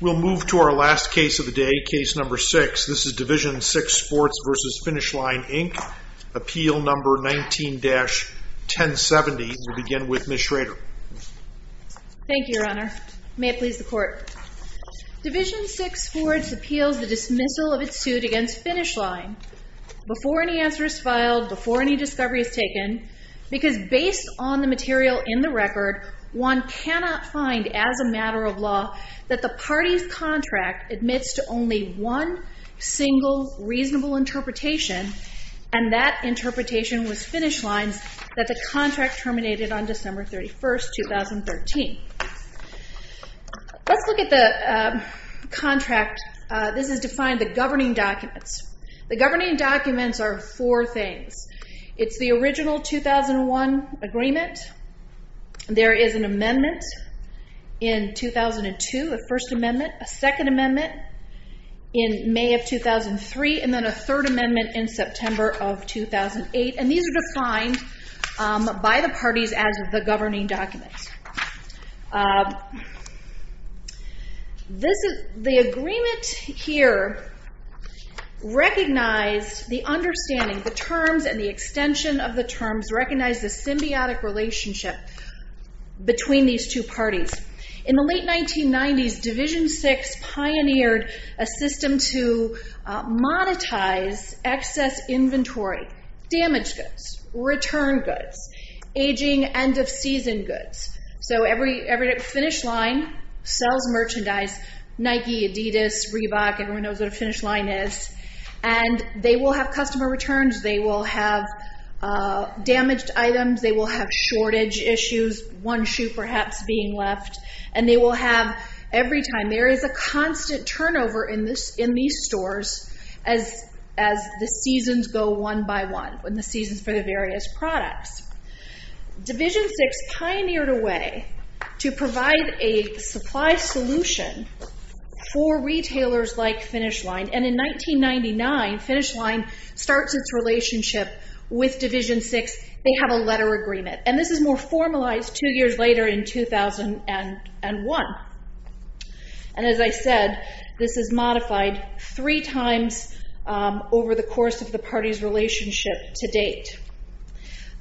We'll move to our last case of the day, Case Number Six. This is Division Six Sports v. Finish Line, Inc. Appeal Number 19-1070. We'll begin with Ms. Schrader. Thank you, Your Honor. May it please the Court. Division Six Sports appeals the dismissal of its suit against Finish Line before any answer is filed, before any discovery is taken, because based on the material in the record, one cannot find, as a matter of law, that the party's contract admits to only one single reasonable interpretation, and that interpretation was Finish Line's, that the contract terminated on December 31, 2013. Let's look at the contract. This is defined the governing documents. The governing documents are four things. It's the original 2001 agreement. There is an amendment in 2002, a First Amendment, a Second Amendment in May of 2003, and then a Third Amendment in September of 2008. And these are defined by the parties as the governing documents. The agreement here recognized the understanding, the terms and the extension of the terms, recognized the symbiotic relationship between these two parties. In the late 1990s, Division Six pioneered a system to monetize excess inventory, damage goods, return goods, aging, end-of-season goods. So every Finish Line sells merchandise, Nike, Adidas, Reebok, everyone knows what a Finish Line is, and they will have customer returns, they will have damaged items, they will have shortage issues, one shoe perhaps being left, and they will have every time. There is a constant turnover in these stores as the seasons go one by one, when the seasons for the various products. Division Six pioneered a way to provide a supply solution for retailers like Finish Line, and in 1999, Finish Line starts its relationship with Division Six. They have a letter agreement, and this is more formalized two years later in 2001. And as I said, this is modified three times over the course of the party's relationship to date.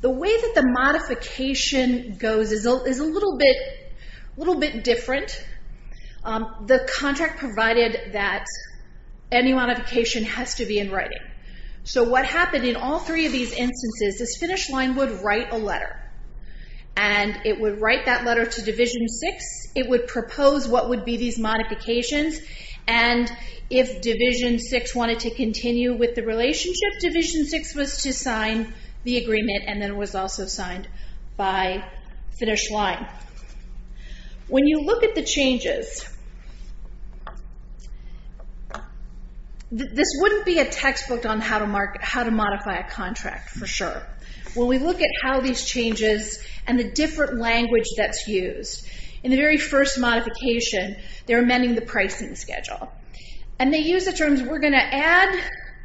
The way that the modification goes is a little bit different. The contract provided that any modification has to be in writing. So what happened in all three of these instances is Finish Line would write a letter, and it would write that letter to Division Six, it would propose what would be these modifications, and if Division Six wanted to continue with the relationship, Division Six was to sign the agreement, and then it was also signed by Finish Line. When you look at the changes, this wouldn't be a textbook on how to modify a contract for sure. When we look at how these changes and the different language that's used, in the very first modification, they're amending the pricing schedule, and they use the terms, we're going to add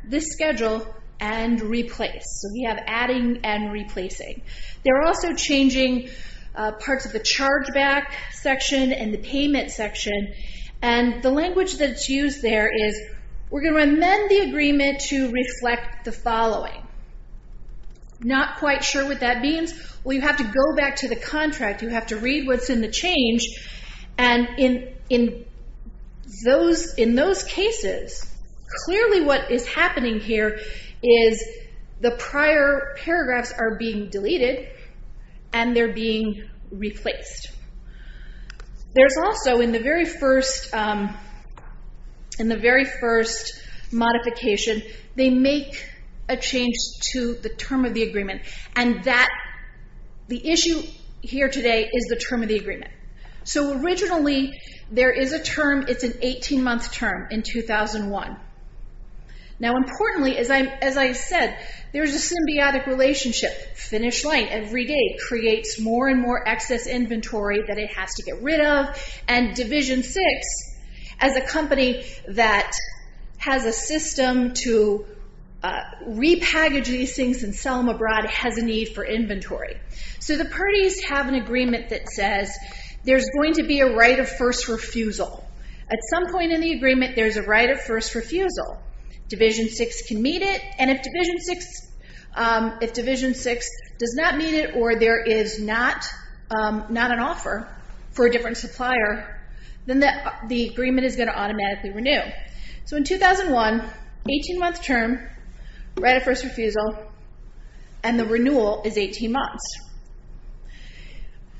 this schedule and replace. So we have adding and replacing. They're also changing parts of the chargeback section and the payment section, and the language that's used there is we're going to amend the agreement to reflect the following. Not quite sure what that means? Well, you have to go back to the contract. You have to read what's in the change, and in those cases, clearly what is happening here is the prior paragraphs are being deleted, and they're being replaced. There's also, in the very first modification, they make a change to the term of the agreement, and the issue here today is the term of the agreement. So originally, there is a term. It's an 18-month term in 2001. Now, importantly, as I said, there's a symbiotic relationship. Finish line every day creates more and more excess inventory that it has to get rid of, and Division VI, as a company that has a system to repackage these things and sell them abroad, has a need for inventory. So the parties have an agreement that says there's going to be a right of first refusal. At some point in the agreement, there's a right of first refusal. Division VI can meet it, and if Division VI does not meet it or there is not an offer for a different supplier, then the agreement is going to automatically renew. So in 2001, 18-month term, right of first refusal, and the renewal is 18 months.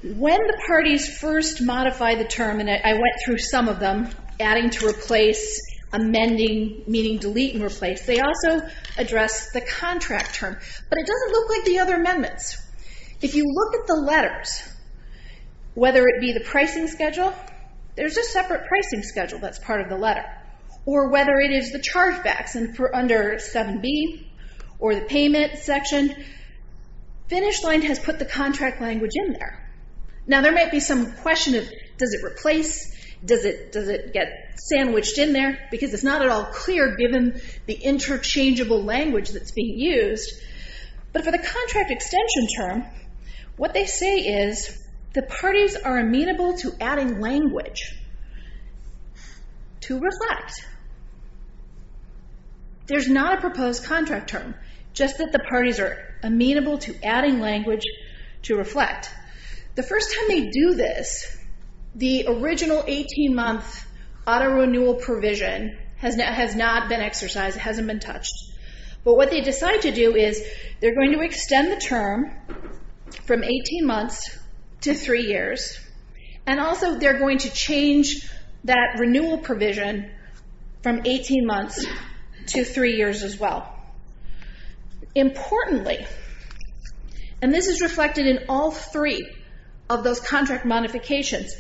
When the parties first modify the term, and I went through some of them, adding to replace, amending, meaning delete and replace, they also address the contract term. But it doesn't look like the other amendments. If you look at the letters, whether it be the pricing schedule, there's a separate pricing schedule that's part of the letter. Or whether it is the chargebacks under 7B or the payment section, finish line has put the contract language in there. Now there might be some question of does it replace, does it get sandwiched in there, because it's not at all clear given the interchangeable language that's being used. But for the contract extension term, what they say is the parties are amenable to adding language to reflect. There's not a proposed contract term. Just that the parties are amenable to adding language to reflect. The first time they do this, the original 18-month auto renewal provision has not been exercised. It hasn't been touched. But what they decide to do is they're going to extend the term from 18 months to three years. And also they're going to change that renewal provision from 18 months to three years as well. Importantly, and this is reflected in all three of those contract modifications,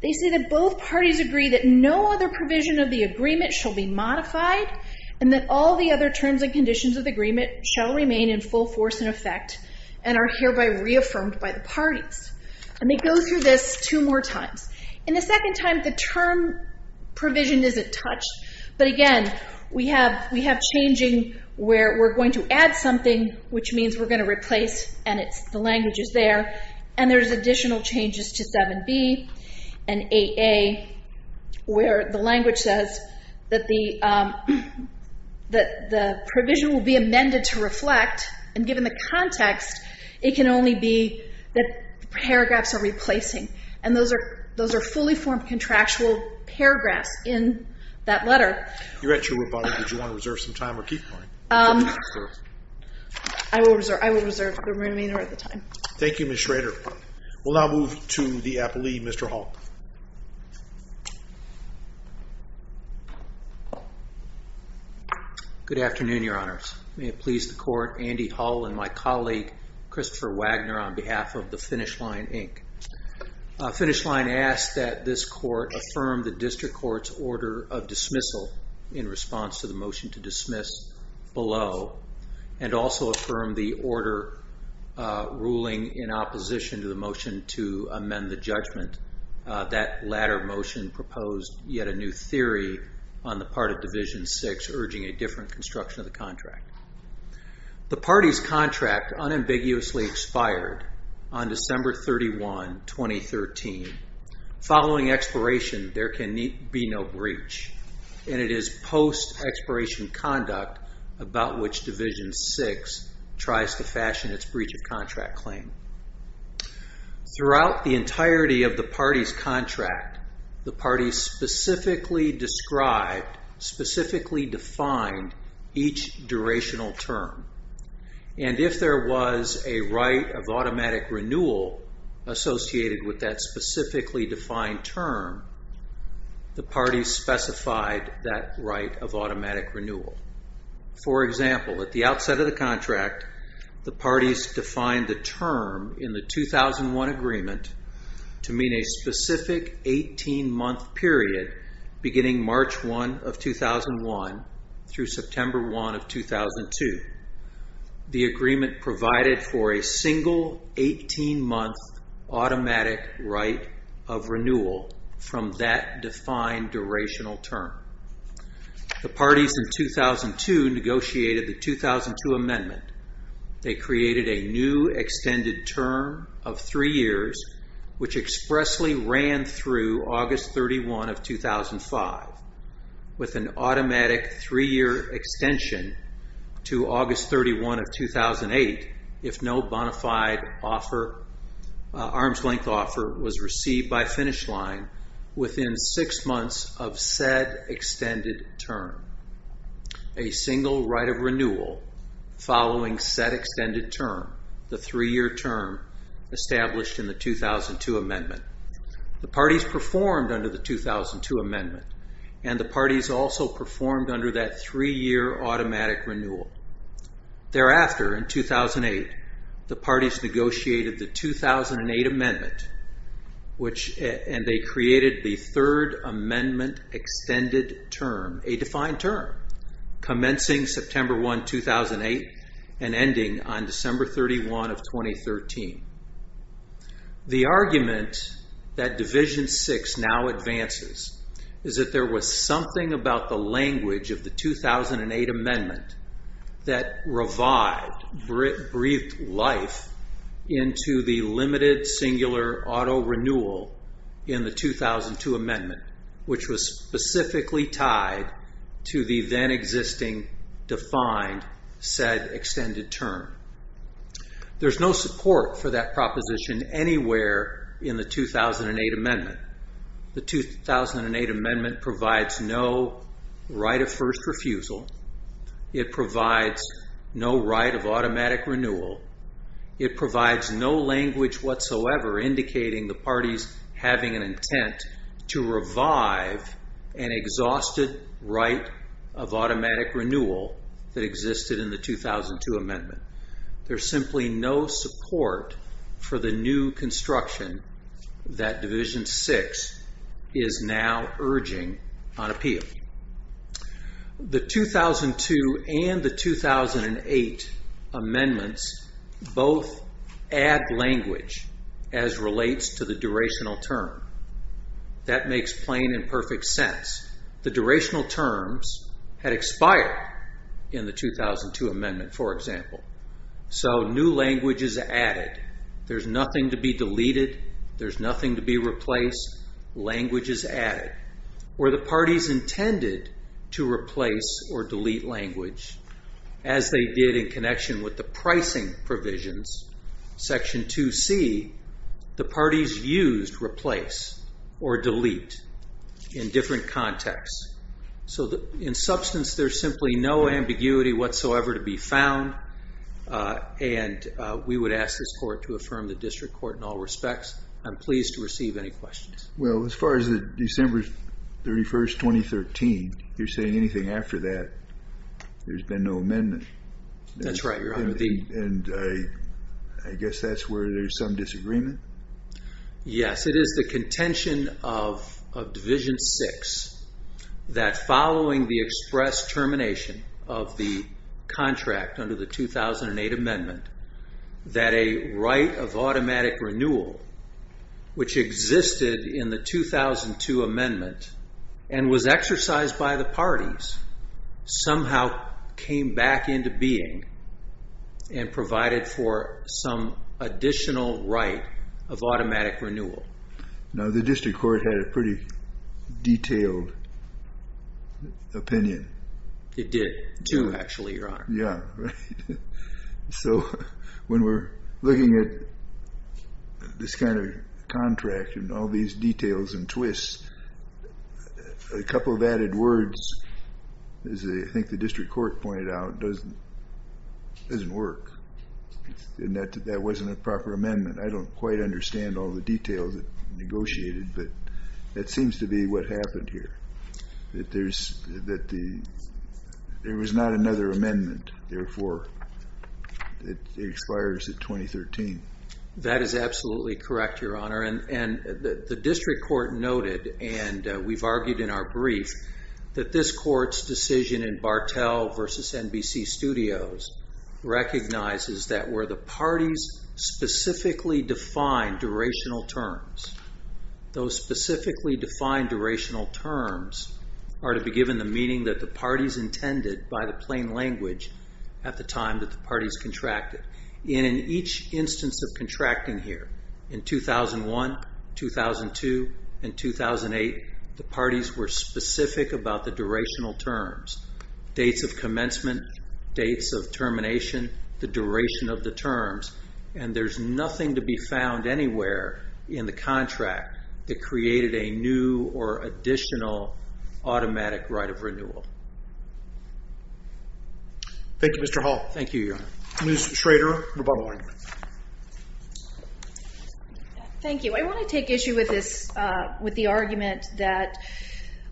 they say that both parties agree that no other provision of the agreement shall be modified and that all the other terms and conditions of the agreement shall remain in full force and effect and are hereby reaffirmed by the parties. And they go through this two more times. In the second time, the term provision isn't touched. But again, we have changing where we're going to add something, which means we're going to replace and the language is there. And there's additional changes to 7B and 8A where the language says that the provision will be amended to reflect. And given the context, it can only be that paragraphs are replacing. And those are fully formed contractual paragraphs in that letter. You're at your rebuttal. Would you want to reserve some time or keep going? I will reserve the remainder of the time. Thank you, Ms. Schrader. We'll now move to the appellee, Mr. Hull. Good afternoon, Your Honors. May it please the Court, Andy Hull and my colleague, Christopher Wagner, on behalf of the Finish Line, Inc. Finish Line asks that this Court affirm the District Court's order of dismissal in response to the motion to dismiss below and also affirm the order ruling in opposition to the motion to amend the judgment. That latter motion proposed yet a new theory on the part of Division VI, urging a different construction of the contract. The party's contract unambiguously expired on December 31, 2013. Following expiration, there can be no breach. And it is post-expiration conduct about which Division VI tries to fashion its breach of contract claim. Throughout the entirety of the party's contract, the party specifically described, specifically defined, each durational term. And if there was a right of automatic renewal associated with that specifically defined term, the party specified that right of automatic renewal. For example, at the outset of the contract, the party's defined the term in the 2001 agreement to mean a specific 18-month period beginning March 1 of 2001 through September 1 of 2002. The agreement provided for a single 18-month automatic right of renewal from that defined durational term. The parties in 2002 negotiated the 2002 amendment. They created a new extended term of three years, which expressly ran through August 31 of 2005, with an automatic three-year extension to August 31 of 2008 if no bonafide arm's-length offer was received by finish line within six months of said extended term. A single right of renewal following said extended term, the three-year term established in the 2002 amendment. The parties performed under the 2002 amendment, and the parties also performed under that three-year automatic renewal. Thereafter, in 2008, the parties negotiated the 2008 amendment, and they created the third amendment extended term, a defined term, commencing September 1, 2008 and ending on December 31 of 2013. The argument that Division VI now advances is that there was something about the language of the 2008 amendment that revived, breathed life into the limited singular auto renewal in the 2002 amendment, which was specifically tied to the then-existing defined said extended term. There's no support for that proposition anywhere in the 2008 amendment. The 2008 amendment provides no right of first refusal. It provides no right of automatic renewal. It provides no language whatsoever indicating the parties having an intent to revive an exhausted right of automatic renewal that existed in the 2002 amendment. There's simply no support for the new construction that Division VI is now urging on appeal. The 2002 and the 2008 amendments both add language as relates to the durational term. That makes plain and perfect sense. The durational terms had expired in the 2002 amendment, for example, so new language is added. There's nothing to be deleted. There's nothing to be replaced. Language is added. Were the parties intended to replace or delete language as they did in connection with the pricing provisions, Section 2C, the parties used replace or delete in different contexts. In substance, there's simply no ambiguity whatsoever to be found, and we would ask this Court to affirm the district court in all respects. I'm pleased to receive any questions. Well, as far as December 31, 2013, you're saying anything after that, there's been no amendment. That's right. I guess that's where there's some disagreement? Yes. It is the contention of Division VI that following the express termination of the contract under the 2008 amendment that a right of automatic renewal, which existed in the 2002 amendment and was exercised by the parties, somehow came back into being and provided for some additional right of automatic renewal. Now, the district court had a pretty detailed opinion. It did, too, actually, Your Honor. Yeah, right. So when we're looking at this kind of contract and all these details and twists, a couple of added words, as I think the district court pointed out, doesn't work. That wasn't a proper amendment. I don't quite understand all the details that were negotiated, but that seems to be what happened here. There was not another amendment, therefore, that expires at 2013. That is absolutely correct, Your Honor. The district court noted, and we've argued in our brief, that this court's decision in Bartell v. NBC Studios recognizes that where the parties specifically define durational terms, those specifically defined durational terms are to be given the meaning that the parties intended by the plain language at the time that the parties contracted. And in each instance of contracting here, in 2001, 2002, and 2008, the parties were specific about the durational terms, dates of commencement, dates of termination, the duration of the terms. And there's nothing to be found anywhere in the contract that created a new or additional automatic right of renewal. Thank you, Mr. Hall. Thank you, Your Honor. Ms. Schrader, rebuttal. Thank you. I want to take issue with the argument that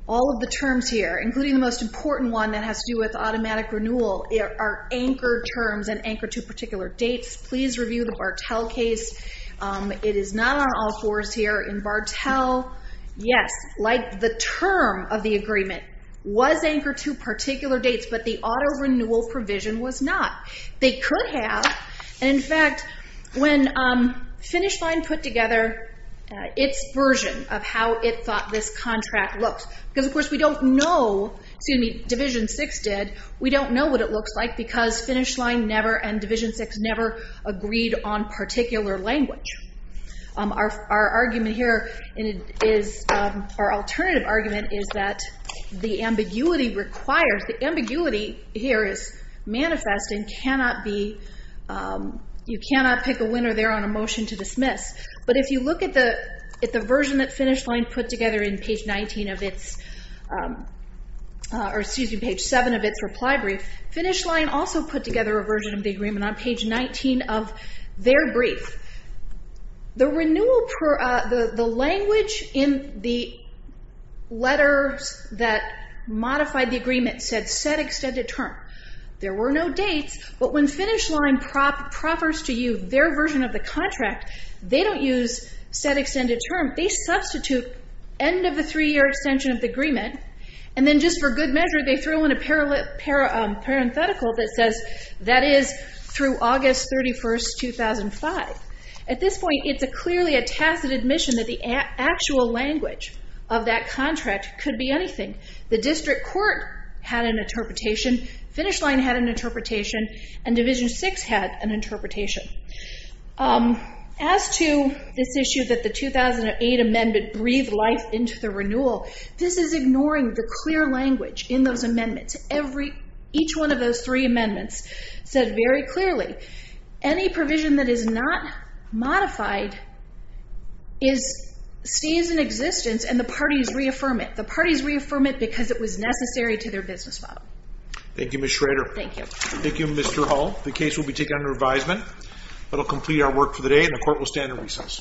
all of the terms here, including the most important one that has to do with automatic renewal, are anchored terms and anchored to particular dates. Please review the Bartell case. It is not on all fours here. In Bartell, yes, like the term of the agreement was anchored to particular dates, but the auto renewal provision was not. They could have. And, in fact, when Finish Line put together its version of how it thought this contract looked, because, of course, we don't know, excuse me, Division VI did, we don't know what it looks like because Finish Line never and Division VI never agreed on particular language. Our argument here is, our alternative argument is that the ambiguity requires, the ambiguity here is manifest and cannot be, you cannot pick a winner there on a motion to dismiss. But if you look at the version that Finish Line put together in page 19 of its, or excuse me, page 7 of its reply brief, Finish Line also put together a version of the agreement on page 19 of their brief. The renewal, the language in the letters that modified the agreement said set extended term. There were no dates, but when Finish Line proffers to you their version of the contract, they don't use set extended term. They substitute end of the three-year extension of the agreement, and then just for good measure, they throw in a parenthetical that says that is through August 31st, 2005. At this point, it's clearly a tacit admission that the actual language of that contract could be anything. The district court had an interpretation, Finish Line had an interpretation, and Division VI had an interpretation. As to this issue that the 2008 amendment breathed life into the renewal, this is ignoring the clear language in those amendments. Each one of those three amendments said very clearly, any provision that is not modified stays in existence, and the parties reaffirm it. The parties reaffirm it because it was necessary to their business model. Thank you, Ms. Schrader. Thank you. Thank you, Mr. Hall. The case will be taken under advisement. That will complete our work for the day, and the court will stand in recess.